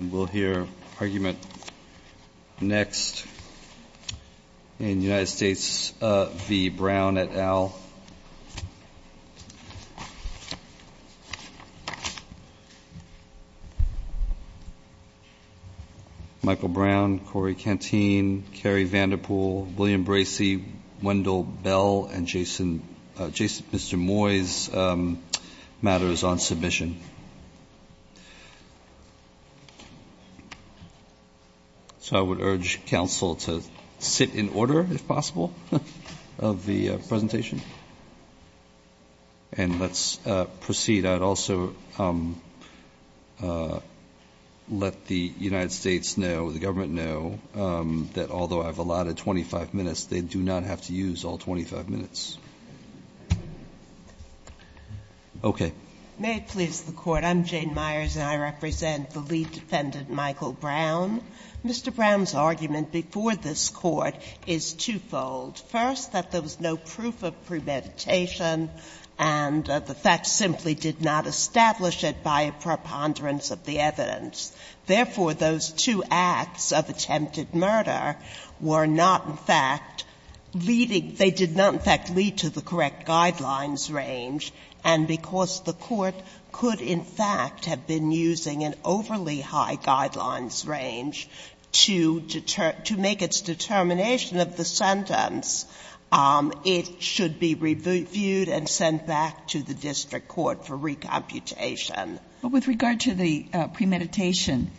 We'll hear argument next in United States v. Brown et al. Michael Brown, Corey Canteen, Carrie Vanderpool, William Bracey, Wendell Bell, and Jason Moyes' matters on submission. So I would urge counsel to sit in order, if possible, of the presentation. And let's proceed. I'd also let the United States know, the government know, that although I've allotted 25 minutes, they do not have to use all 25 minutes. Okay. Jane Myers, and I represent the lead defendant, Michael Brown. Mr. Brown's argument before this Court is twofold. First, that there was no proof of premeditation, and the facts simply did not establish it by a preponderance of the evidence. Therefore, those two acts of attempted murder were not, in fact, leading – they did not, in fact, lead to the correct guidelines range. And because the Court could, in fact, have been using an overly high guidelines range to make its determination of the sentence, it should be reviewed and sent back to the district court for recomputation. But with regard to the premeditation,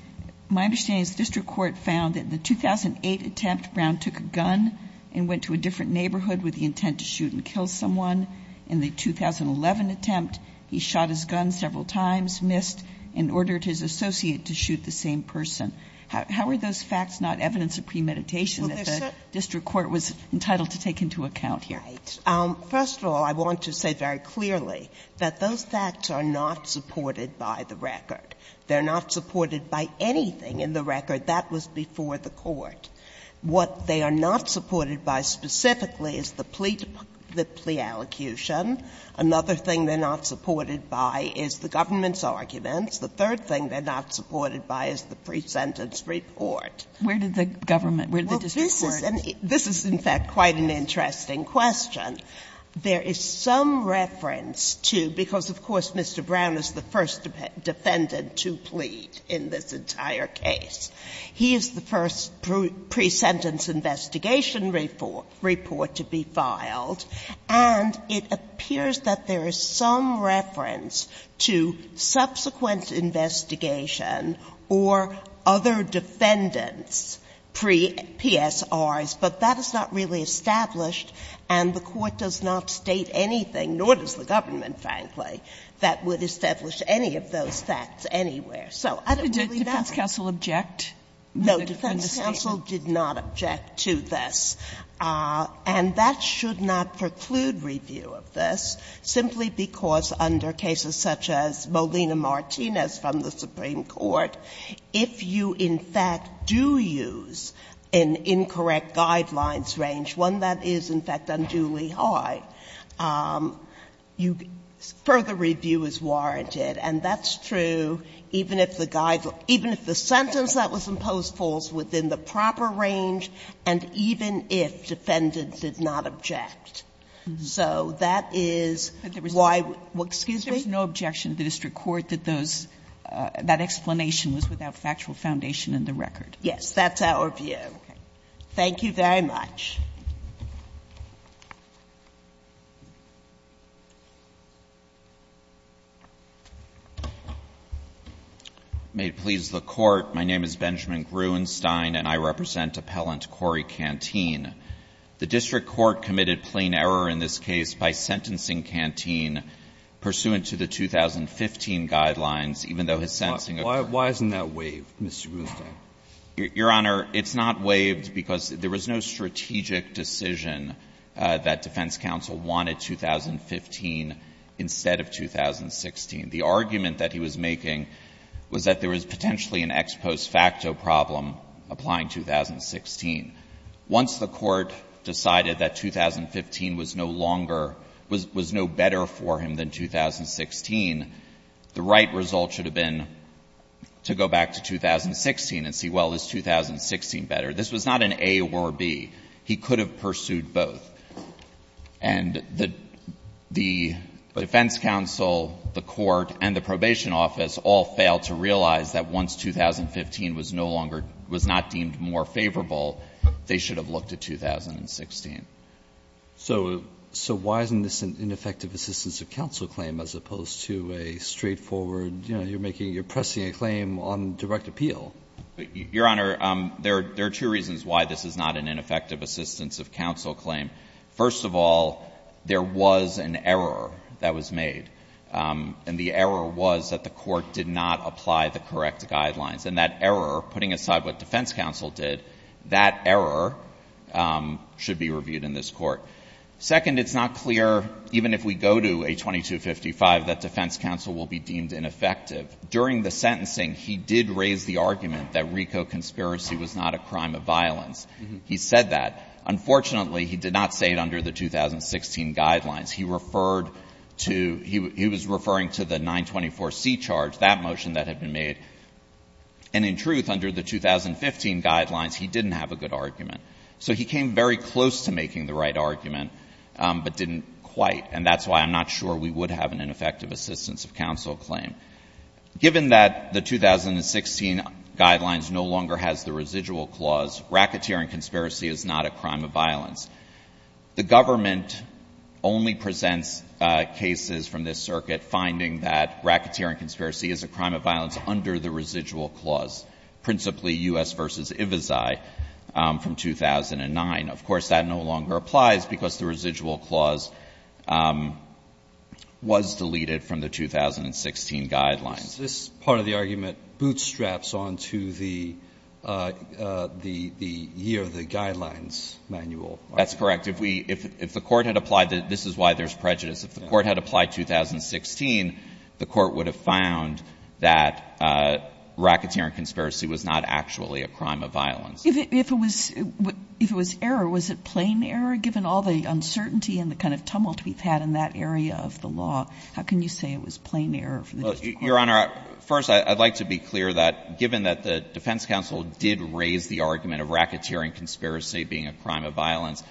my understanding is the district court found that in the 2008 attempt, Brown took a gun and went to a different neighborhood with the intent to shoot and kill someone. In the 2011 attempt, he shot his gun several times, missed, and ordered his associate to shoot the same person. How are those facts not evidence of premeditation that the district court was entitled to take into account here? First of all, I want to say very clearly that those facts are not supported by the record. They're not supported by anything in the record that was before the Court. What they are not supported by specifically is the plea allocution. Another thing they're not supported by is the government's arguments. The third thing they're not supported by is the pre-sentence report. Where did the government, where did the district court? And this is, in fact, quite an interesting question. There is some reference to, because of course Mr. Brown is the first defendant to plead in this entire case, he is the first pre-sentence investigation report to be filed, and it appears that there is some reference to subsequent investigation or other defendants pre-PSRs, but that is not really established and the Court does not state anything, nor does the government, frankly, that would establish any of those facts anywhere. So I don't really know. Sotomayor, did the defense counsel object? No, defense counsel did not object to this. And that should not preclude review of this, simply because under cases such as Molina-Martino and others from the Supreme Court, if you, in fact, do use an incorrect guidelines range, one that is, in fact, unduly high, you, further review is warranted. And that's true even if the sentence that was imposed falls within the proper range and even if defendants did not object. So that is why we're, excuse me? There is no objection to the district court that those, that explanation was without factual foundation in the record. Yes, that's our view. Okay. Thank you very much. May it please the Court. My name is Benjamin Gruenstein, and I represent Appellant Corey Canteen. The district court committed plain error in this case by sentencing Canteen pursuant to the 2015 guidelines, even though his sentencing occurred. Why isn't that waived, Mr. Gruenstein? Your Honor, it's not waived because there was no strategic decision that defense counsel wanted 2015 instead of 2016. The argument that he was making was that there was potentially an ex post facto problem applying 2016. Once the Court decided that 2015 was no longer, was no better for him than 2016, the right result should have been to go back to 2016 and see, well, is 2016 better? This was not an A or B. He could have pursued both. And the defense counsel, the Court, and the probation office all failed to realize that once 2015 was no longer, was not deemed more favorable, they should have looked at 2016. So why isn't this an ineffective assistance of counsel claim as opposed to a straightforward you're making, you're pressing a claim on direct appeal? Your Honor, there are two reasons why this is not an ineffective assistance of counsel claim. First of all, there was an error that was made. And the error was that the Court did not apply the correct guidelines. And that error, putting aside what defense counsel did, that error should be reviewed in this Court. Second, it's not clear, even if we go to A2255, that defense counsel will be deemed ineffective. During the sentencing, he did raise the argument that RICO conspiracy was not a crime of violence. He said that. Unfortunately, he did not say it under the 2016 guidelines. He referred to, he was referring to the 924C charge, that motion that had been made. And in truth, under the 2015 guidelines, he didn't have a good argument. So he came very close to making the right argument, but didn't quite. And that's why I'm not sure we would have an ineffective assistance of counsel claim. Given that the 2016 guidelines no longer has the residual clause, racketeering conspiracy is not a crime of violence. The government only presents cases from this circuit finding that racketeering conspiracy is a crime of violence under the residual clause, principally U.S. v. Ivezi from 2009. Of course, that no longer applies, because the residual clause was deleted from the 2016 guidelines. This part of the argument bootstraps on to the year of the guidelines manual. That's correct. If we, if the Court had applied, this is why there's prejudice. If the Court had applied 2016, the Court would have found that racketeering conspiracy was not actually a crime of violence. If it was error, was it plain error? Given all the uncertainty and the kind of tumult we've had in that area of the law, how can you say it was plain error for the district court? Your Honor, first, I'd like to be clear that, given that the defense counsel did raise the argument of racketeering conspiracy being a crime of violence,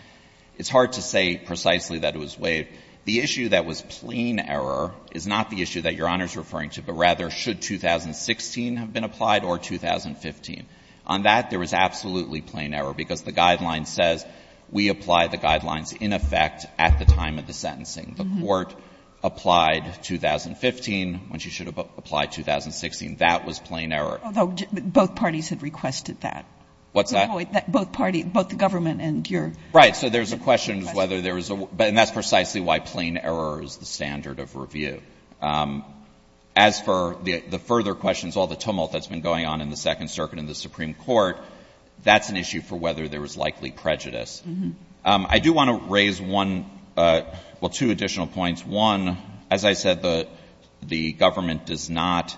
it's hard to say precisely that it was waived. The issue that was plain error is not the issue that Your Honor is referring to, but rather, should 2016 have been applied or 2015? On that, there was absolutely plain error, because the guideline says we apply the guidelines in effect at the time of the sentencing. The Court applied 2015 when she should have applied 2016. That was plain error. Although both parties had requested that. What's that? Both parties, both the government and your question. Right. So there's a question of whether there was a, and that's precisely why plain error is the standard of review. As for the further questions, all the tumult that's been going on in the Second Circuit and the Supreme Court, that's an issue for whether there was likely prejudice. I do want to raise one, well, two additional points. One, as I said, the government does not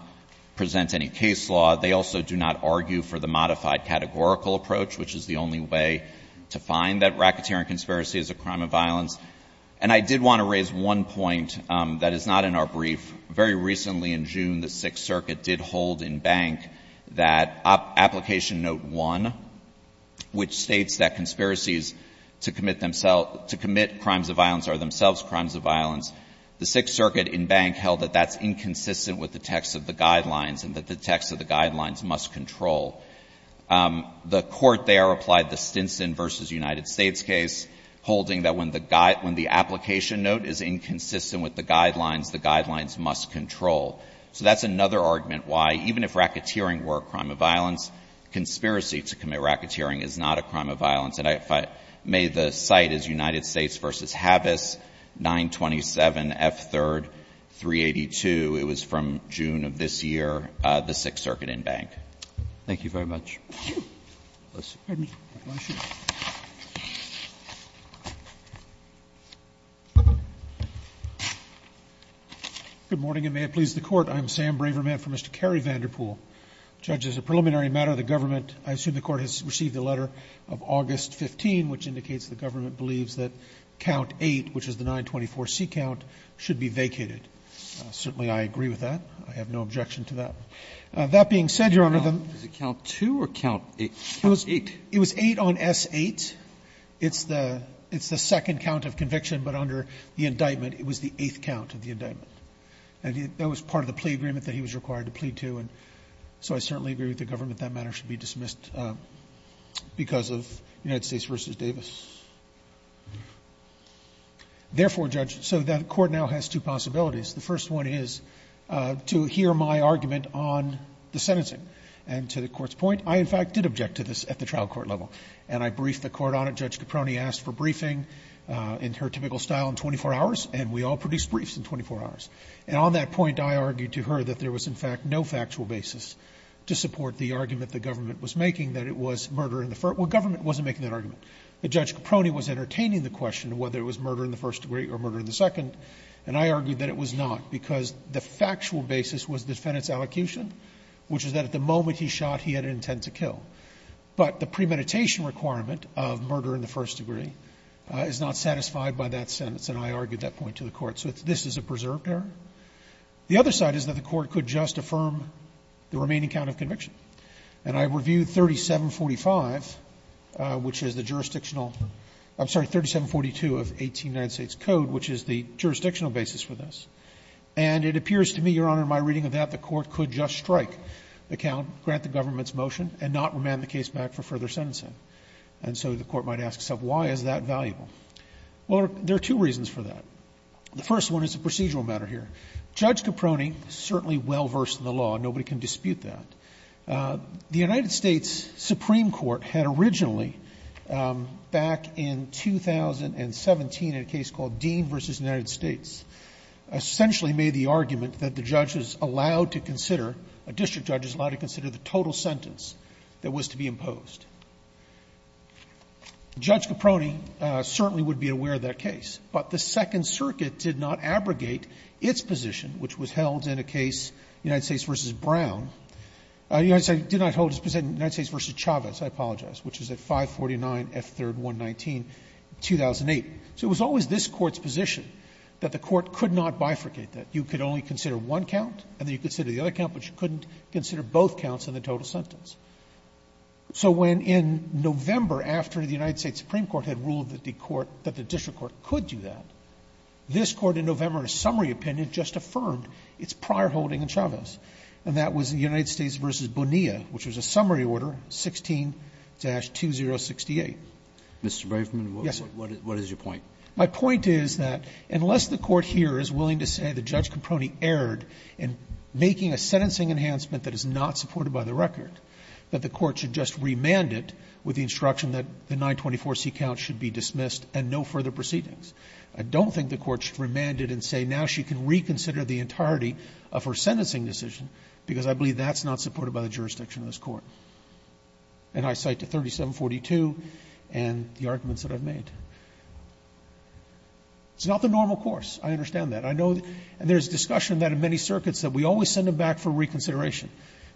present any case law. They also do not argue for the modified categorical approach, which is the only way to find that racketeering conspiracy is a crime of violence. And I did want to raise one point that is not in our brief. Very recently in June, the Sixth Circuit did hold in bank that application note one, which states that conspiracies to commit themselves, to commit crimes of violence are themselves crimes of violence. The Sixth Circuit in bank held that that's inconsistent with the text of the guidelines and that the text of the guidelines must control. The Court there applied the Stinson v. United States case, holding that when the application note is inconsistent with the guidelines, the guidelines must control. So that's another argument why, even if racketeering were a crime of violence, conspiracy to commit racketeering is not a crime of violence. And if I may, the site is United States v. Havis, 927 F. 3rd, 382. It was from June of this year, the Sixth Circuit in bank. Thank you very much. Pardon me. I want to shoot. Good morning, and may it please the Court. I'm Sam Braverman for Mr. Cary Vanderpool. Judge, as a preliminary matter, the government, I assume the Court has received a letter of August 15, which indicates the government believes that count 8, which is the 924C count, should be vacated. Certainly I agree with that. I have no objection to that. That being said, Your Honor, the ---- It was 8 on S-8. It's the second count of conviction, but under the indictment, it was the eighth count of the indictment. And that was part of the plea agreement that he was required to plead to. And so I certainly agree with the government that that matter should be dismissed because of United States v. Davis. Therefore, Judge, so the Court now has two possibilities. The first one is to hear my argument on the sentencing. And to the Court's point, I, in fact, did object to this at the trial court level. And I briefed the Court on it. Judge Caproni asked for briefing in her typical style in 24 hours, and we all produced briefs in 24 hours. And on that point, I argued to her that there was, in fact, no factual basis to support the argument the government was making that it was murder in the first ---- well, government wasn't making that argument. But Judge Caproni was entertaining the question of whether it was murder in the first degree or murder in the second, and I argued that it was not because the factual basis was the defendant's allocution, which is that at the moment he shot, he had an intent to kill. But the premeditation requirement of murder in the first degree is not satisfied by that sentence, and I argued that point to the Court. So this is a preserved error. The other side is that the Court could just affirm the remaining count of conviction. And I reviewed 3745, which is the jurisdictional ---- I'm sorry, 3742 of 18 United States Code, which is the jurisdictional basis for this. And it appears to me, Your Honor, in my reading of that, the Court could just strike the count, grant the government's motion, and not remand the case back for further sentencing. And so the Court might ask itself, why is that valuable? Well, there are two reasons for that. The first one is a procedural matter here. Judge Caproni certainly well-versed in the law. Nobody can dispute that. The United States Supreme Court had originally, back in 2017 in a case called Dean v. United States, essentially made the argument that the judge is allowed to consider ---- a district judge is allowed to consider the total sentence that was to be imposed. Judge Caproni certainly would be aware of that case. But the Second Circuit did not abrogate its position, which was held in a case United States v. Brown. The United States did not hold its position in United States v. Chavez, I apologize, which is at 549 F. 3rd 119, 2008. So it was always this Court's position that the Court could not bifurcate that. You could only consider one count, and then you could consider the other count, but you couldn't consider both counts in the total sentence. So when in November, after the United States Supreme Court had ruled that the court ---- that the district court could do that, this Court in November, in a summary opinion, just affirmed its prior holding in Chavez, and that was United States v. Bonilla, which was a summary order, 16-2068. Mr. Brafman, what is your point? My point is that unless the Court here is willing to say that Judge Caproni erred in making a sentencing enhancement that is not supported by the record, that the Court should just remand it with the instruction that the 924C count should be dismissed and no further proceedings. I don't think the Court should remand it and say now she can reconsider the entirety of her sentencing decision, because I believe that's not supported by the jurisdiction of this Court. And I cite the 3742 and the arguments that I've made. It's not the normal course. I understand that. I know that there is discussion that in many circuits that we always send them back for reconsideration.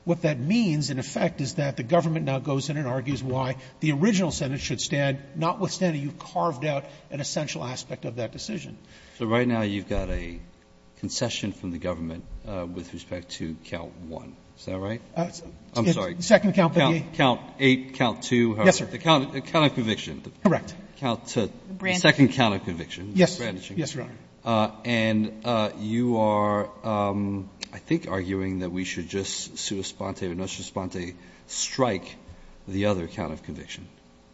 What that means, in effect, is that the government now goes in and argues why the original sentence should stand, notwithstanding you've carved out an essential aspect of that decision. So right now you've got a concession from the government with respect to count 1. Is that right? I'm sorry. The second count. Count 8, count 2. Yes, sir. The count of conviction. Correct. The second count of conviction. Yes, Your Honor. And you are, I think, arguing that we should just sua sponte or no sua sponte strike the other count of conviction.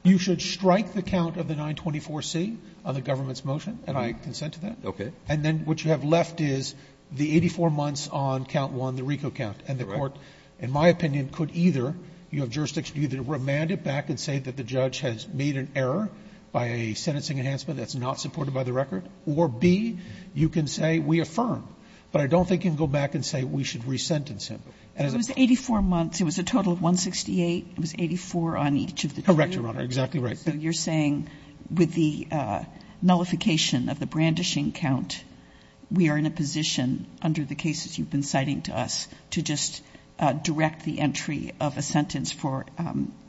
You should strike the count of the 924C on the government's motion, and I would consent to that. Okay. And then what you have left is the 84 months on count 1, the RICO count, and the judge, in my opinion, could either, you have jurisdiction to either remand it back and say that the judge has made an error by a sentencing enhancement that's not supported by the record, or B, you can say we affirm, but I don't think you can go back and say we should resentence him. It was 84 months. It was a total of 168. It was 84 on each of the two. Correct, Your Honor. Exactly right. So you're saying with the nullification of the brandishing count, we are in a position under the cases you've been citing to us to just direct the entry of a sentence for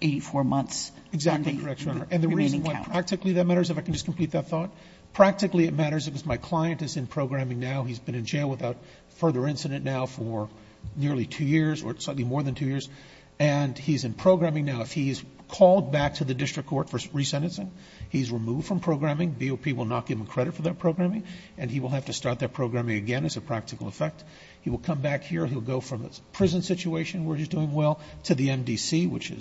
84 months. Exactly correct, Your Honor. And the reason why practically that matters, if I can just complete that thought, practically it matters because my client is in programming now. He's been in jail without further incident now for nearly two years or certainly more than two years, and he's in programming now. If he is called back to the district court for resentencing, he's removed from programming. BOP will not give him credit for that programming, and he will have to start that programming again as a practical effect. He will come back here. He'll go from a prison situation where he's doing well to the MDC, which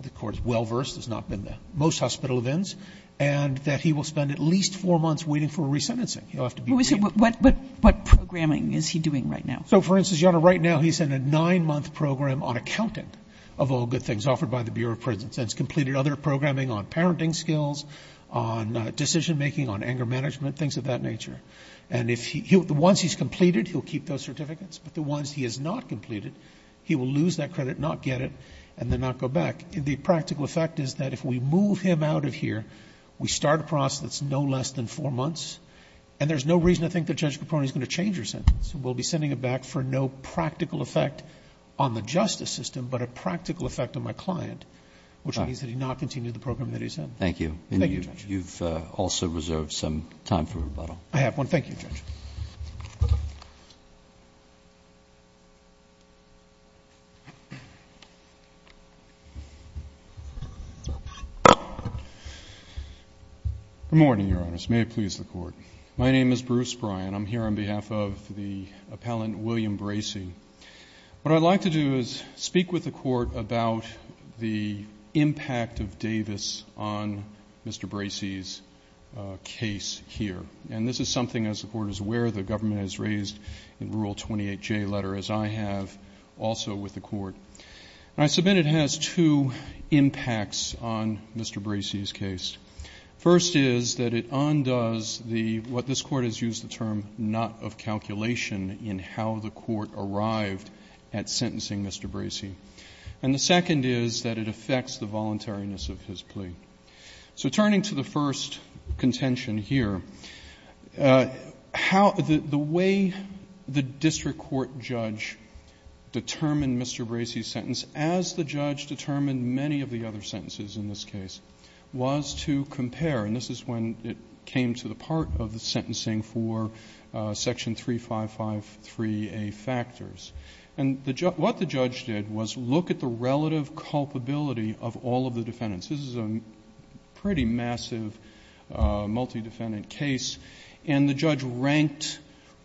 the court is well-versed, has not been the most hospital of inns, and that he will spend at least four months waiting for resentencing. What programming is he doing right now? So, for instance, Your Honor, right now he's in a nine-month program on accountant of all good things offered by the Bureau of Prisons. It's completed other programming on parenting skills, on decision-making, on anger management, things of that nature. And the ones he's completed, he'll keep those certificates. But the ones he has not completed, he will lose that credit, not get it, and then not go back. The practical effect is that if we move him out of here, we start a process that's no less than four months, and there's no reason I think that Judge Capone is going to change your sentence. We'll be sending him back for no practical effect on the justice system, but a practical effect on my client, which means that he not continue the program that he's in. Thank you. Thank you, Judge. You've also reserved some time for rebuttal. I have one. Thank you, Judge. Good morning, Your Honors. May it please the Court. My name is Bruce Bryan. I'm here on behalf of the appellant, William Bracey. What I'd like to do is speak with the Court about the impact of Davis on Mr. Bracey's case here. And this is something, as the Court is aware, the government has raised in Rule 28J letter, as I have also with the Court. And I submit it has two impacts on Mr. Bracey's case. First is that it undoes the what this Court has used the term not of calculation in how the Court arrived at sentencing Mr. Bracey. And the second is that it affects the voluntariness of his plea. So turning to the first contention here, how the way the district court judge determined Mr. Bracey's sentence as the judge determined many of the other sentences in this case was to compare, and this is when it came to the part of the sentencing for Section 3553A factors. And what the judge did was look at the relative culpability of all of the defendants. This is a pretty massive multi-defendant case. And the judge ranked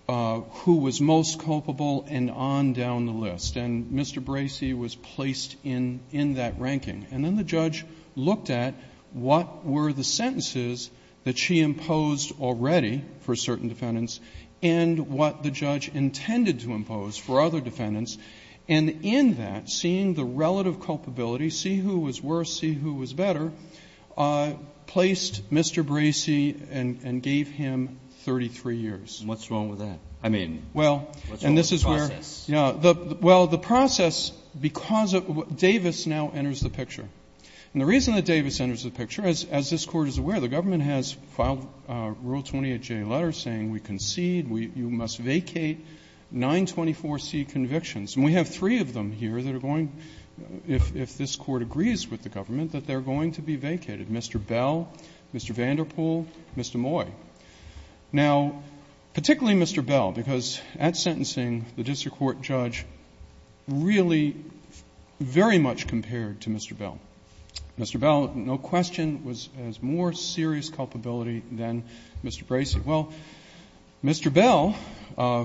who was most culpable and on down the list. And Mr. Bracey was placed in that ranking. And then the judge looked at what were the sentences that she imposed already for certain defendants and what the judge intended to impose for other defendants. And in that, seeing the relative culpability, see who was worse, see who was better, placed Mr. Bracey and gave him 33 years. And what's wrong with that? I mean, what's wrong with the process? Well, the process, because Davis now enters the picture. And the reason that Davis enters the picture, as this Court is aware, the government has filed Rule 28J letters saying we concede, you must vacate 924C convictions. And we have three of them here that are going, if this Court agrees with the government, that they're going to be vacated, Mr. Bell, Mr. Vanderpool, Mr. Moy. Now, particularly Mr. Bell, because at sentencing, the district court judge really very much compared to Mr. Bell. Mr. Bell, no question, has more serious culpability than Mr. Bracey. Well, Mr. Bell,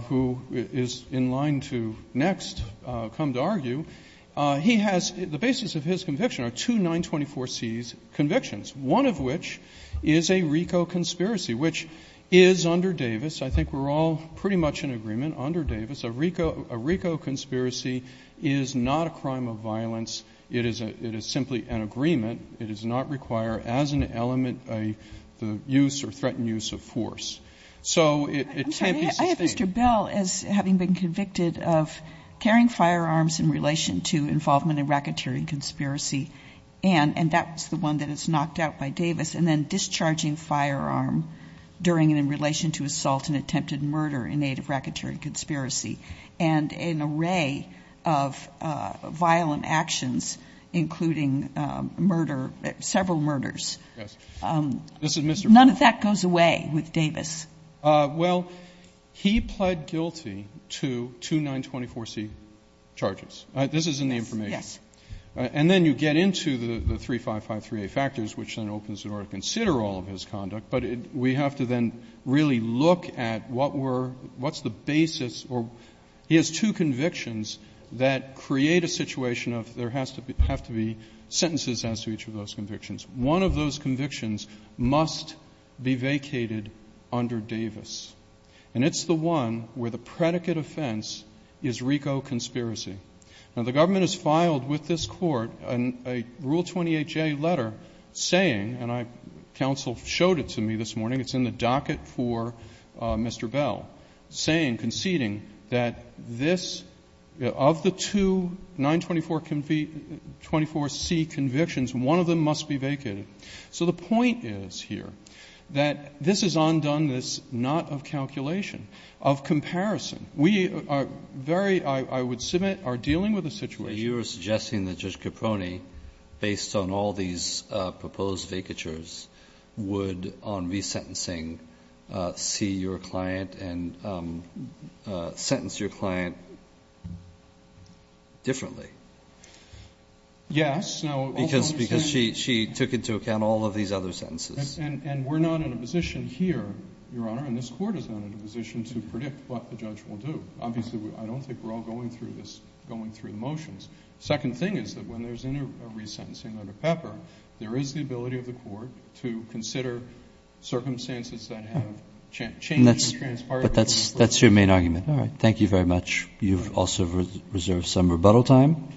who is in line to next come to argue, he has the basis of his conviction are two 924Cs convictions, one of which is a RICO conspiracy, which is under Davis. I think we're all pretty much in agreement under Davis. A RICO conspiracy is not a crime of violence. It is simply an agreement. It does not require as an element the use or threatened use of force. So it can't be sustained. Kagan. I'm sorry. I have Mr. Bell as having been convicted of carrying firearms in relation to involvement in racketeering conspiracy, and that's the one that is knocked out by Davis, and then discharging firearm during and in relation to assault and attempted murder in aid of violent actions, including murder, several murders. None of that goes away with Davis. Well, he pled guilty to two 924C charges. This is in the information. Yes. And then you get into the 3553A factors, which then opens in order to consider all of his conduct, but we have to then really look at what were, what's the basis or he has two convictions that create a situation of there has to be, have to be sentences as to each of those convictions. One of those convictions must be vacated under Davis, and it's the one where the predicate offense is RICO conspiracy. Now, the government has filed with this Court a Rule 28J letter saying, and I, counsel showed it to me this morning, it's in the docket for Mr. Bell, saying, conceding, that this, of the two 924C convictions, one of them must be vacated. So the point is here that this is undone. This is not of calculation, of comparison. We are very, I would submit, are dealing with a situation. But you are suggesting that Judge Caproni, based on all these proposed vacatures, would, on resentencing, see your client and sentence your client differently. Yes. Because she took into account all of these other sentences. And we're not in a position here, Your Honor, and this Court is not in a position to predict what the judge will do. Obviously, I don't think we're all going through this, going through the motions. Second thing is that when there's a resentencing under Pepper, there is the ability of the Court to consider circumstances that have changed and transpired. But that's your main argument. All right. Thank you very much. You've also reserved some rebuttal time.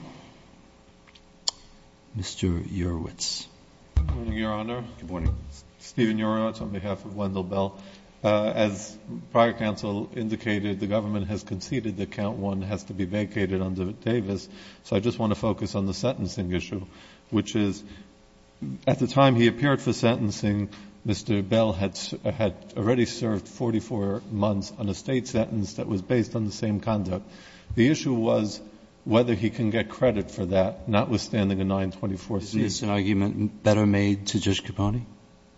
Mr. Urwitz. Good morning, Your Honor. Good morning. Stephen Urwitz on behalf of Wendell Bell. As prior counsel indicated, the government has conceded that count one has to be vacated under Davis. So I just want to focus on the sentencing issue, which is at the time he appeared for sentencing, Mr. Bell had already served 44 months on a State sentence that was based on the same conduct. The issue was whether he can get credit for that, notwithstanding a 924C. Is this an argument better made to Judge Caproni?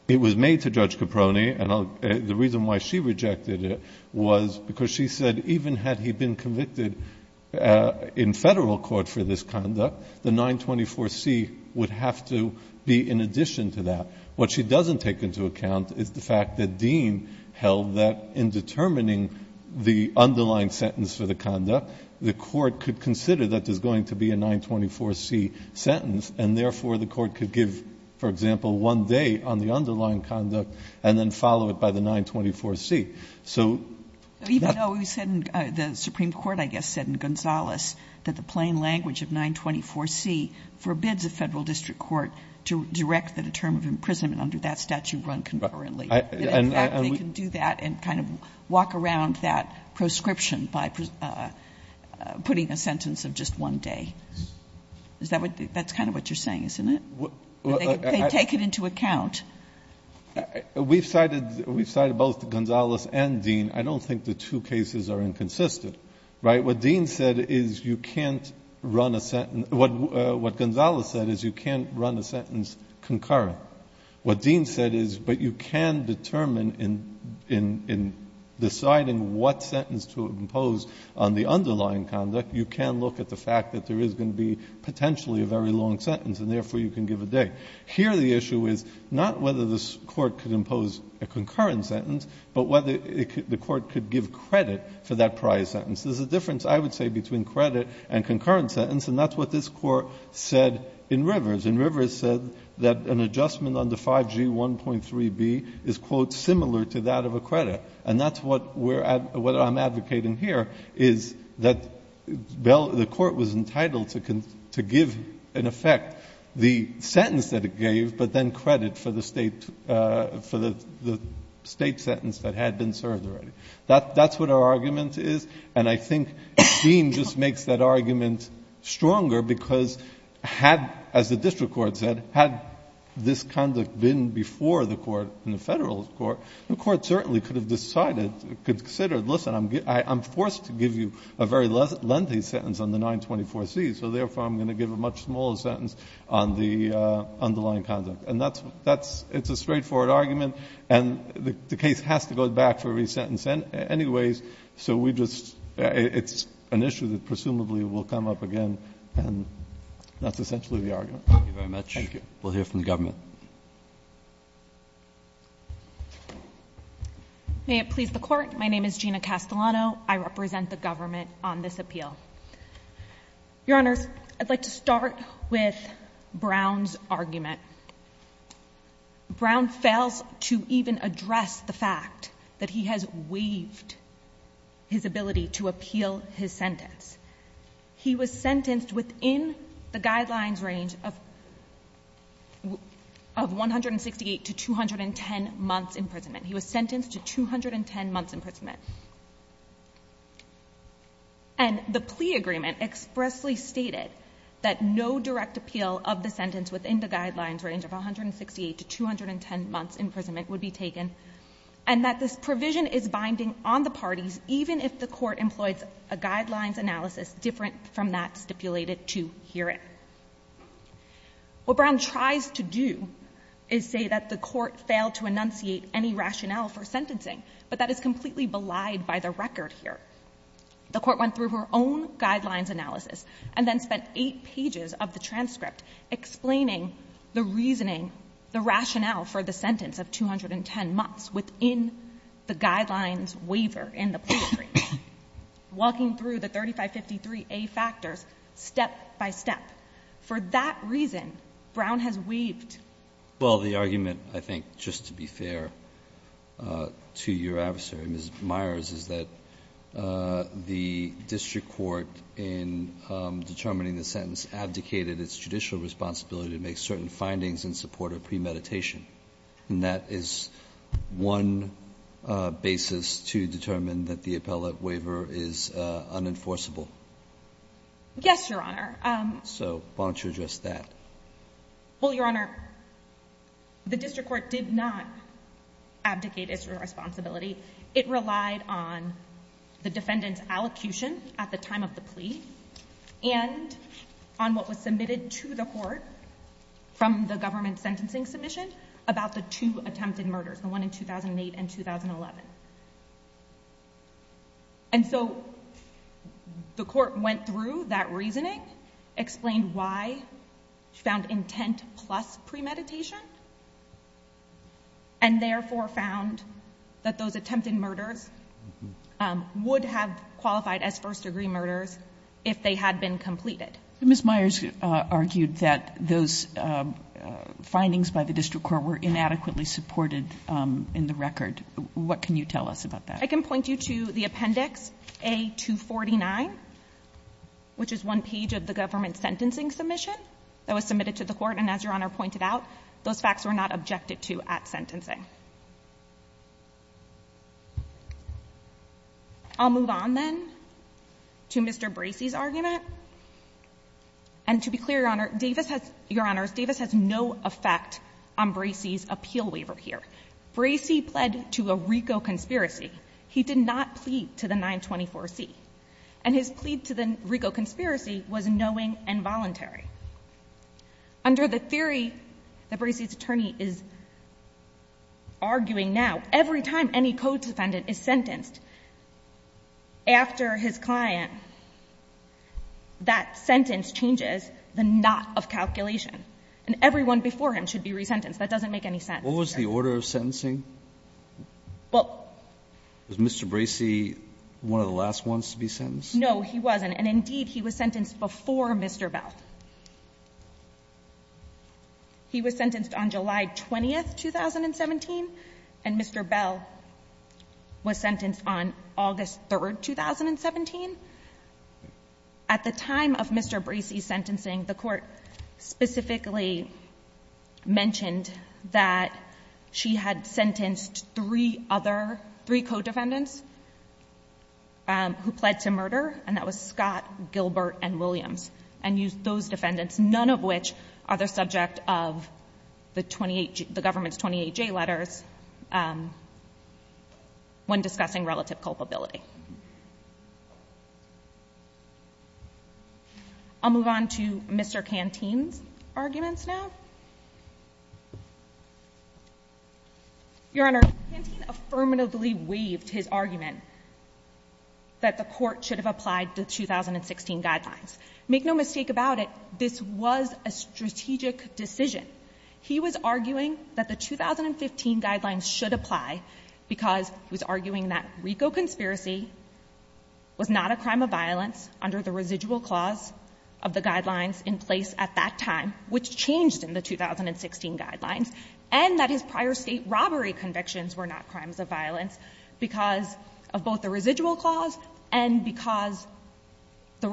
It was made to Judge Caproni. And the reason why she rejected it was because she said even had he been convicted in Federal court for this conduct, the 924C would have to be in addition to that. What she doesn't take into account is the fact that Dean held that in determining the underlying sentence for the conduct, the Court could consider that there's going to be a 924C sentence, and therefore the Court could give, for example, one day on the underlying conduct and then follow it by the 924C. So not the case. Kagan. Even though we said in the Supreme Court, I guess, said in Gonzales that the plain language of 924C forbids a Federal district court to direct that a term of imprisonment under that statute run concurrently. And in fact, they can do that and kind of walk around that proscription by putting a sentence of just one day. Is that what you're saying? That's kind of what you're saying, isn't it? They take it into account. We've cited both Gonzales and Dean. I don't think the two cases are inconsistent. Right? What Dean said is you can't run a sentence. What Gonzales said is you can't run a sentence concurrent. What Dean said is, but you can determine in deciding what sentence to impose on the underlying conduct, you can look at the fact that there is going to be potentially a very long sentence, and therefore you can give a day. Here the issue is not whether this Court could impose a concurrent sentence, but whether the Court could give credit for that prior sentence. There is a difference, I would say, between credit and concurrent sentence, and that's what this Court said in Rivers. In Rivers it said that an adjustment under 5G1.3b is, quote, similar to that of a credit. And that's what we're at, what I'm advocating here, is that the Court was entitled to give, in effect, the sentence that it gave, but then credit for the State sentence that had been served already. That's what our argument is, and I think Dean just makes that argument stronger because had, as the district court said, had this conduct been before the Court and the Federalist Court, the Court certainly could have decided, considered, listen, I'm forced to give you a very lengthy sentence on the 924C, so therefore I'm going to give a much smaller sentence on the underlying conduct. And that's a straightforward argument, and the case has to go back for every sentence anyways, so we just — it's an issue that presumably will come up again, and that's essentially the argument. Roberts. Thank you very much. We'll hear from the government. May it please the Court. My name is Gina Castellano. I represent the government on this appeal. Your Honors, I'd like to start with Brown's argument. Brown fails to even address the fact that he has waived his ability to appeal his sentence. He was sentenced within the guidelines range of 168 to 210 months' imprisonment. He was sentenced to 210 months' imprisonment. And the plea agreement expressly stated that no direct appeal of the sentence within the guidelines range of 168 to 210 months' imprisonment would be taken, and that this provision is binding on the parties even if the Court employs a guidelines analysis different from that stipulated to herein. What Brown tries to do is say that the Court failed to enunciate any rationale for sentencing, but that is completely belied by the record here. The Court went through her own guidelines analysis and then spent eight pages of the guidelines waiver in the plea agreement, walking through the 3553A factors step-by-step. For that reason, Brown has waived. Well, the argument, I think, just to be fair to your adversary, Ms. Myers, is that the district court in determining the sentence abdicated its judicial responsibility to make certain findings in support of premeditation. And that is one basis to determine that the appellate waiver is unenforceable. Yes, Your Honor. So why don't you address that? Well, Your Honor, the district court did not abdicate its responsibility. It relied on the defendant's allocution at the time of the plea and on what was submitted to the Court from the government sentencing submission about the two attempted murders, the one in 2008 and 2011. And so the Court went through that reasoning, explained why, found intent plus premeditation, and therefore found that those attempted murders would have qualified as first-degree murders if they had been completed. Ms. Myers argued that those findings by the district court were inadequately supported in the record. What can you tell us about that? I can point you to the Appendix A-249, which is one page of the government sentencing submission that was submitted to the Court. And as Your Honor pointed out, those facts were not objected to at sentencing. I'll move on then to Mr. Bracey's argument. And to be clear, Your Honor, Davis has no effect on Bracey's appeal waiver here. Bracey pled to a RICO conspiracy. He did not plead to the 924C. And his plea to the RICO conspiracy was knowing and voluntary. Under the theory that Bracey's attorney is arguing now, every time any code defendant is sentenced, after his client, that sentence changes the knot of calculation. And everyone before him should be resentenced. That doesn't make any sense. What was the order of sentencing? Well — Was Mr. Bracey one of the last ones to be sentenced? No, he wasn't. And indeed, he was sentenced before Mr. Bell. He was sentenced on July 20, 2017. And Mr. Bell was sentenced on August 3, 2017. At the time of Mr. Bracey's sentencing, the Court specifically mentioned that she had sentenced three other — three code defendants who pled to murder. And that was Scott, Gilbert, and Williams. And those defendants, none of which are the subject of the government's 28J letters when discussing relative culpability. I'll move on to Mr. Canteen's arguments now. Your Honor, Canteen affirmatively waived his argument that the Court should have applied the 2016 guidelines. Make no mistake about it, this was a strategic decision. He was arguing that the 2015 guidelines should apply because he was arguing that RICO conspiracy was not a crime of violence under the residual clause of the guidelines in place at that time, which changed in the 2016 guidelines, and that his prior State robbery convictions were not crimes of violence because of both the residual clause and because the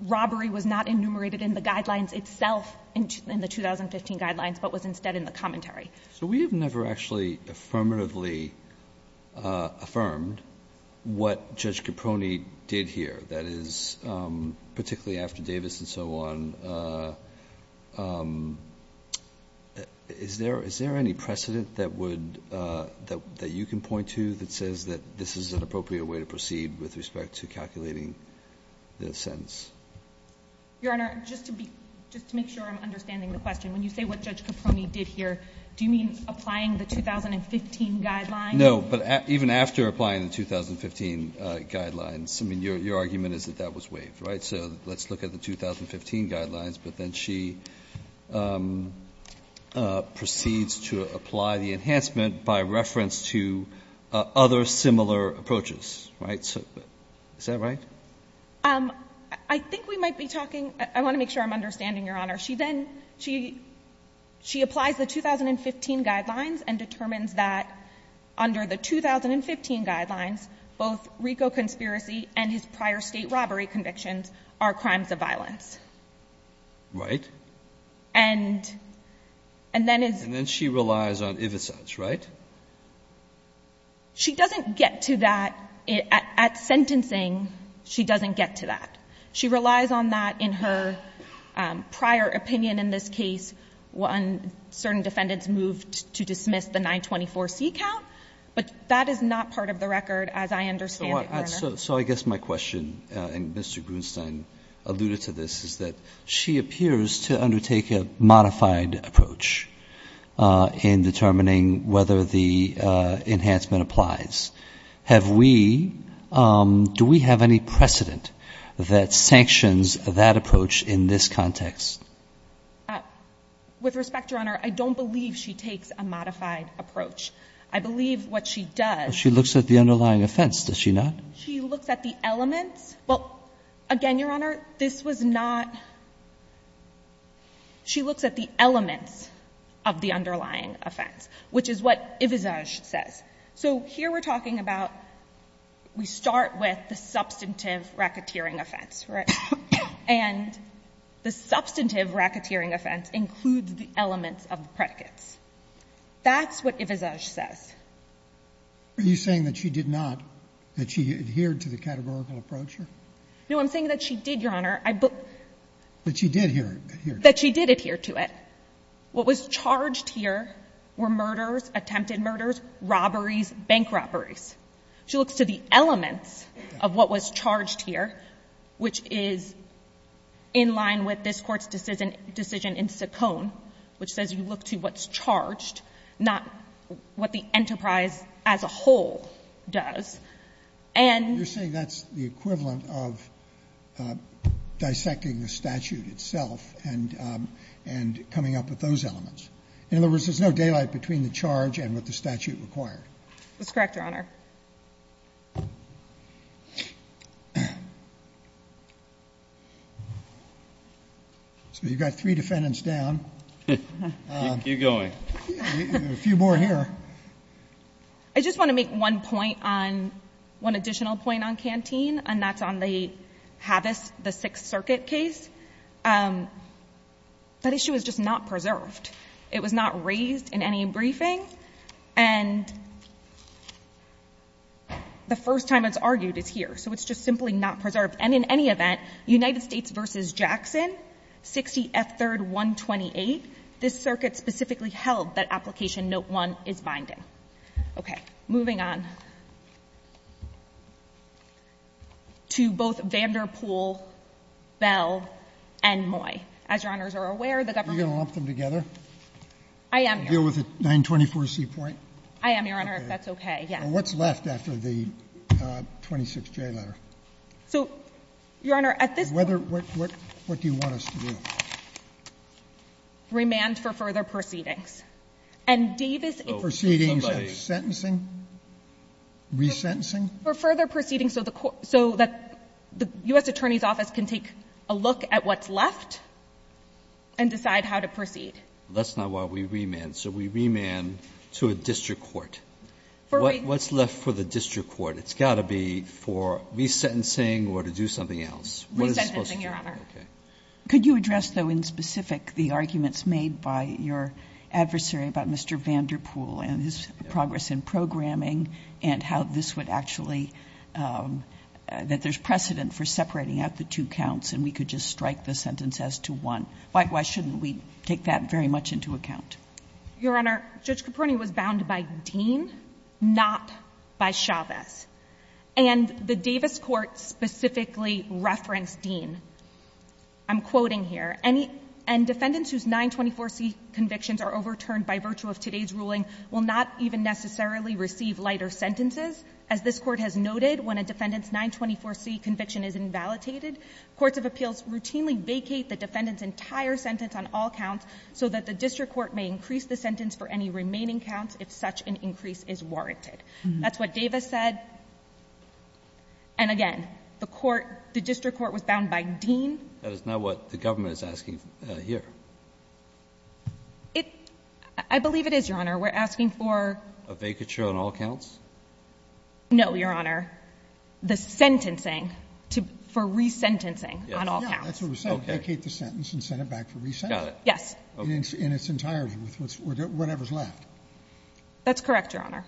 robbery was not enumerated in the guidelines itself in the 2015 guidelines, but was instead in the commentary. So we have never actually affirmatively affirmed what Judge Caproni did here, that is, particularly after Davis and so on. Is there any precedent that would — that you can point to that says that this is an appropriate way to proceed with respect to calculating the sentence? Your Honor, just to be — just to make sure I'm understanding the question, when you say what Judge Caproni did here, do you mean applying the 2015 guidelines? No, but even after applying the 2015 guidelines, I mean, your argument is that that was waived, right? So let's look at the 2015 guidelines, but then she proceeds to apply the enhancement by reference to other similar approaches, right? So is that right? I think we might be talking — I want to make sure I'm understanding, Your Honor. She then — she applies the 2015 guidelines and determines that under the 2015 guidelines, both RICO conspiracy and his prior State robbery convictions are crimes of violence. Right. And then is — And then she relies on Ivicides, right? She doesn't get to that. At sentencing, she doesn't get to that. She relies on that in her prior opinion in this case when certain defendants moved to dismiss the 924C count, but that is not part of the record, as I understand it, Your Honor. So I guess my question, and Mr. Grunstein alluded to this, is that she appears to undertake a modified approach in determining whether the enhancement applies. Have we — do we have any precedent that sanctions that approach in this context? With respect, Your Honor, I don't believe she takes a modified approach. I believe what she does — She looks at the underlying offense, does she not? She looks at the elements. Well, again, Your Honor, this was not — she looks at the elements of the underlying offense, which is what Ivicides says. So here we're talking about — we start with the substantive racketeering offense, right? And the substantive racketeering offense includes the elements of the predicates. That's what Ivicides says. Are you saying that she did not — that she adhered to the categorical approach No, I'm saying that she did, Your Honor. But she did adhere to it. That she did adhere to it. What was charged here were murders, attempted murders, robberies, bank robberies. She looks to the elements of what was charged here, which is in line with this Court's decision in Saccone, which says you look to what's charged, not what the enterprise as a whole does. And — You're saying that's the equivalent of dissecting the statute itself and — and coming up with those elements. In other words, there's no daylight between the charge and what the statute required. That's correct, Your Honor. So you've got three defendants down. Keep going. A few more here. I just want to make one point on — one additional point on Canteen, and that's on the Havis, the Sixth Circuit case. That issue is just not preserved. It was not raised in any briefing. And the first time it's argued, it's here. So it's just simply not preserved. And in any event, United States v. Jackson, 60 F. 3rd 128, this circuit specifically held that Application Note 1 is binding. Okay. Moving on to both Vanderpool, Bell, and Moy. As Your Honors are aware, the government — Are you going to lump them together? I am, Your Honor. Deal with the 924C point? I am, Your Honor, if that's okay. Yes. What's left after the 26J letter? So, Your Honor, at this point — What do you want us to do? Remand for further proceedings. And Davis — Resentencing? Resentencing? For further proceedings so that the U.S. Attorney's Office can take a look at what's left and decide how to proceed. That's not why we remand. So we remand to a district court. What's left for the district court? It's got to be for resentencing or to do something else. Resentencing, Your Honor. Okay. Could you address, though, in specific the arguments made by your adversary about Mr. Vanderpool and his progress in programming and how this would actually — that there's precedent for separating out the two counts and we could just strike the sentence as to one? Why shouldn't we take that very much into account? Your Honor, Judge Caproni was bound by Dean, not by Chavez. And the Davis court specifically referenced Dean. I'm quoting here. And defendants whose 924C convictions are overturned by virtue of today's ruling will not even necessarily receive lighter sentences. As this Court has noted, when a defendant's 924C conviction is invalidated, courts of appeals routinely vacate the defendant's entire sentence on all counts so that the district court may increase the sentence for any remaining counts if such an increase is warranted. That's what Davis said. And again, the court — the district court was bound by Dean. That is not what the government is asking here. It — I believe it is, Your Honor. We're asking for — A vacature on all counts? No, Your Honor. The sentencing for resentencing on all counts. Yeah, that's what we're saying. Vacate the sentence and send it back for resentence. Got it. Yes. In its entirety, with whatever's left. That's correct, Your Honor.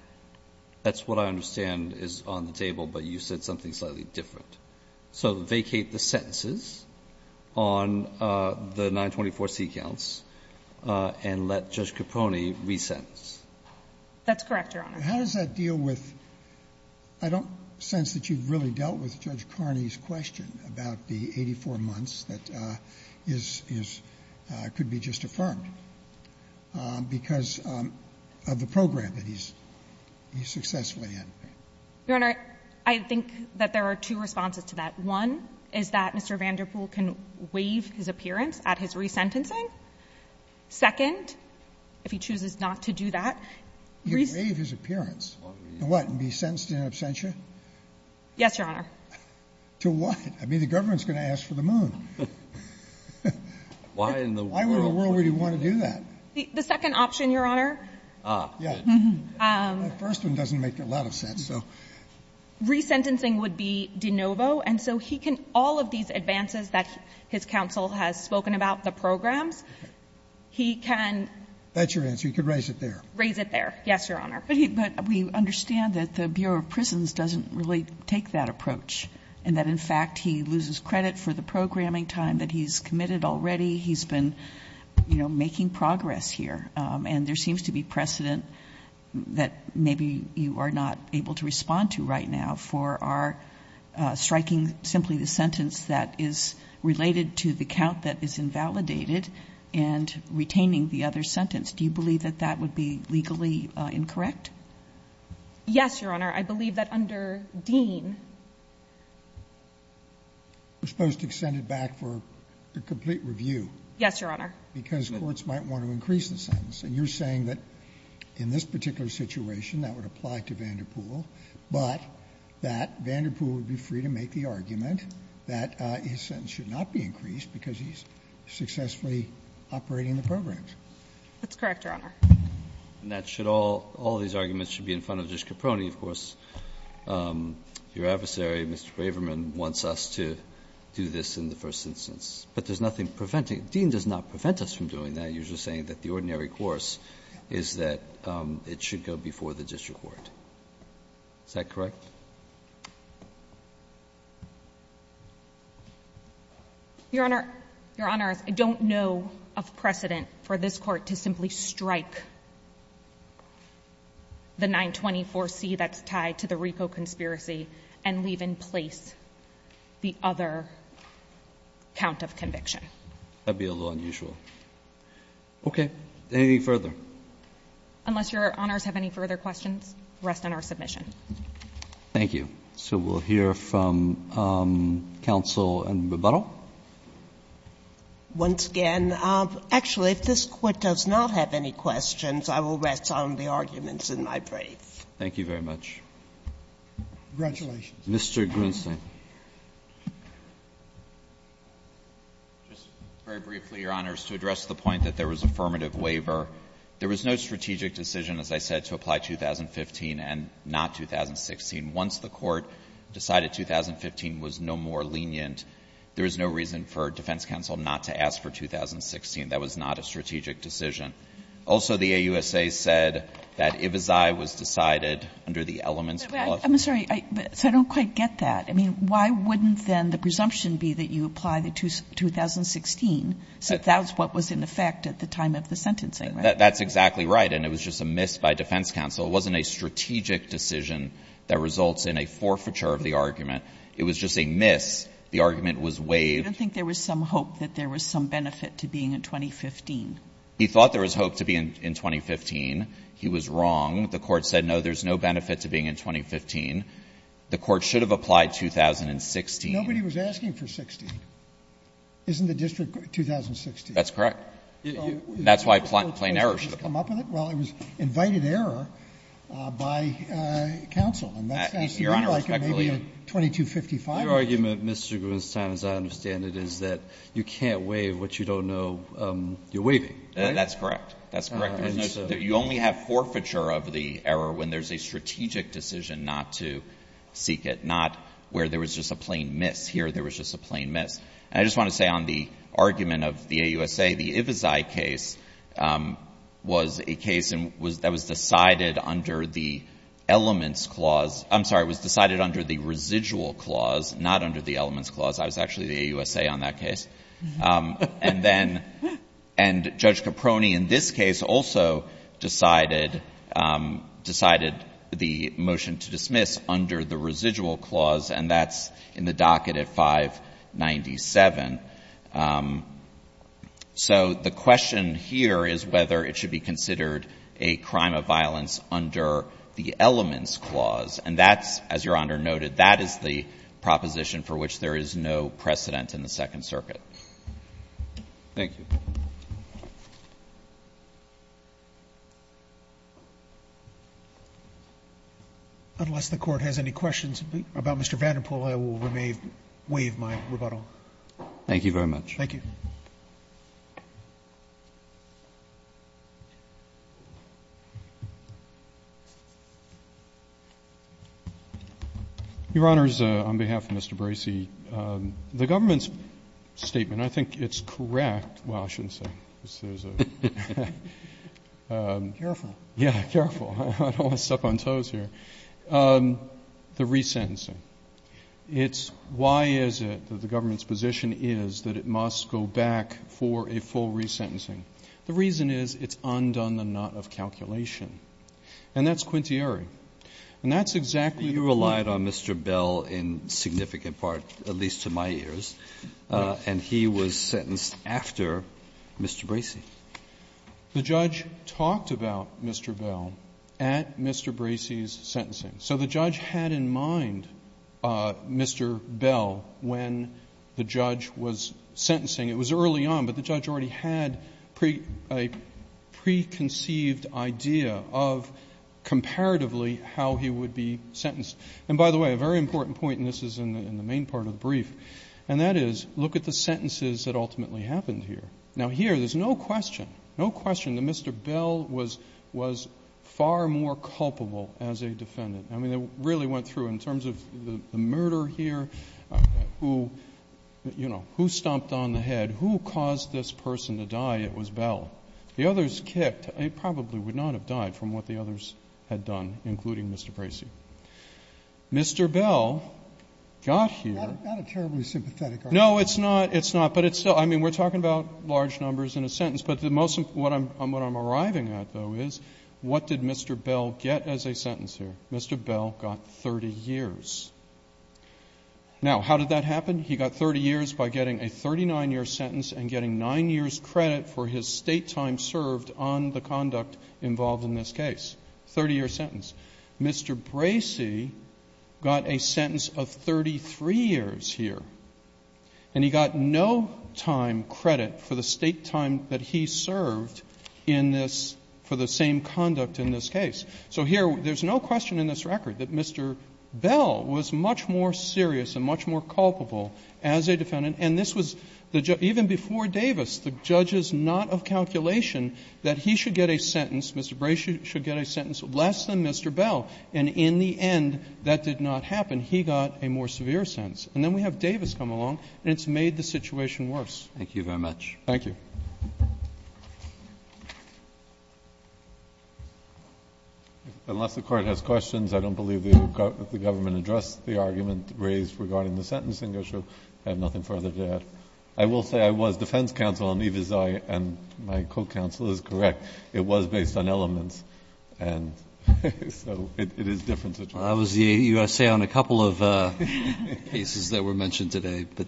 That's what I understand is on the table, but you said something slightly different. So vacate the sentences on the 924C counts and let Judge Capone resentence. That's correct, Your Honor. How does that deal with — I don't sense that you've really dealt with Judge Carney's question about the 84 months that is — could be just affirmed because of the program that he's successfully in. Your Honor, I think that there are two responses to that. One is that Mr. Vanderpool can waive his appearance at his resentencing. Second, if he chooses not to do that — He can waive his appearance. To what? And be sentenced in absentia? Yes, Your Honor. To what? I mean, the government's going to ask for the moon. Why in the world would he want to do that? The second option, Your Honor — Ah. Yeah. The first one doesn't make a lot of sense, so — Resentencing would be de novo. And so he can — all of these advances that his counsel has spoken about, the programs, he can — That's your answer. He could raise it there. Raise it there. Yes, Your Honor. But we understand that the Bureau of Prisons doesn't really take that approach and that, in fact, he loses credit for the programming time that he's committed already. He's been, you know, making progress here. And there seems to be precedent that maybe you are not able to respond to right now for our striking simply the sentence that is related to the count that is invalidated and retaining the other sentence. Do you believe that that would be legally incorrect? Yes, Your Honor. I believe that under Dean — You're supposed to extend it back for the complete review. Yes, Your Honor. Because courts might want to increase the sentence. And you're saying that in this particular situation that would apply to Vanderpool, but that Vanderpool would be free to make the argument that his sentence should not be increased because he's successfully operating the programs. That's correct, Your Honor. And that should all — all these arguments should be in front of Judge Caproni, of course. Your adversary, Mr. Waverman, wants us to do this in the first instance. But there's nothing preventing — Dean does not prevent us from doing that. You're just saying that the ordinary course is that it should go before the district court. Is that correct? Your Honor, I don't know of precedent for this Court to simply strike the 924C that's That would be a little unusual. Okay. Anything further? Unless Your Honors have any further questions, rest on our submission. Thank you. So we'll hear from counsel in rebuttal. Once again, actually, if this Court does not have any questions, I will rest on the arguments in my brief. Thank you very much. Congratulations. Mr. Grunstein. Just very briefly, Your Honors. To address the point that there was affirmative waiver, there was no strategic decision, as I said, to apply 2015 and not 2016. Once the Court decided 2015 was no more lenient, there was no reason for defense counsel not to ask for 2016. That was not a strategic decision. Also, the AUSA said that Ivazai was decided under the elements of the law. I'm sorry. So I don't quite get that. I mean, why wouldn't then the presumption be that you apply the 2016 since that was what was in effect at the time of the sentencing, right? That's exactly right. And it was just a miss by defense counsel. It wasn't a strategic decision that results in a forfeiture of the argument. It was just a miss. The argument was waived. I don't think there was some hope that there was some benefit to being in 2015. He thought there was hope to be in 2015. He was wrong. The Court said, no, there's no benefit to being in 2015. The Court should have applied 2016. Nobody was asking for 16. Isn't the district 2016? That's correct. That's why plain error should have applied. Well, it was invited error by counsel. Your Honor, respectfully, your argument, Mr. Greenstein, as I understand it, is that you can't waive what you don't know you're waiving. That's correct. That's correct. You only have forfeiture of the error when there's a strategic decision not to seek it, not where there was just a plain miss. Here, there was just a plain miss. And I just want to say on the argument of the AUSA, the Ivesi case was a case that was decided under the elements clause. I'm sorry. It was decided under the residual clause, not under the elements clause. I was actually the AUSA on that case. And then Judge Caproni in this case also decided the motion to dismiss under the residual clause, and that's in the docket at 597. So the question here is whether it should be considered a crime of violence under the elements clause. And that's, as Your Honor noted, that is the proposition for which there is no precedent in the Second Circuit. Thank you. Unless the Court has any questions about Mr. Vanderpool, I will waive my rebuttal. Thank you very much. Thank you. Your Honors, on behalf of Mr. Bracey, the government's statement, I think it's correct. Well, I shouldn't say. Careful. Yeah, careful. I don't want to step on toes here. The resentencing. It's why is it that the government's position is that it must go back for a full resentencing? The reason is it's undone the knot of calculation. And that's quintiary. And that's exactly the point. But you relied on Mr. Bell in significant part, at least to my ears. And he was sentenced after Mr. Bracey. The judge talked about Mr. Bell at Mr. Bracey's sentencing. So the judge had in mind Mr. Bell when the judge was sentencing. It was early on, but the judge already had a preconceived idea of comparatively how he would be sentenced. And, by the way, a very important point, and this is in the main part of the brief, and that is look at the sentences that ultimately happened here. Now, here there's no question, no question that Mr. Bell was far more culpable as a defendant. I mean, it really went through. In terms of the murder here, who, you know, who stomped on the head, who caused this person to die, it was Bell. The others kicked. They probably would not have died from what the others had done, including Mr. Bracey. Mr. Bell got here. Not a terribly sympathetic argument. No, it's not, it's not. But it's still, I mean, we're talking about large numbers in a sentence. But what I'm arriving at, though, is what did Mr. Bell get as a sentence here? Mr. Bell got 30 years. Now, how did that happen? He got 30 years by getting a 39-year sentence and getting 9 years credit for his state time served on the conduct involved in this case. 30-year sentence. Mr. Bracey got a sentence of 33 years here. And he got no time credit for the state time that he served in this, for the same conduct in this case. So here, there's no question in this record that Mr. Bell was much more serious and much more culpable as a defendant. And this was, even before Davis, the judge is not of calculation that he should get a sentence, Mr. Bracey should get a sentence less than Mr. Bell. And in the end, that did not happen. He got a more severe sentence. And then we have Davis come along, and it's made the situation worse. Roberts. Thank you very much. Thank you. Unless the court has questions, I don't believe that the government addressed the argument raised regarding the sentencing issue. I have nothing further to add. I will say I was defense counsel on Iviza and my co-counsel is correct. It was based on elements. And so it is a different situation. I was the USA on a couple of cases that were mentioned today. But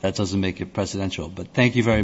that doesn't make it presidential. But thank you very much.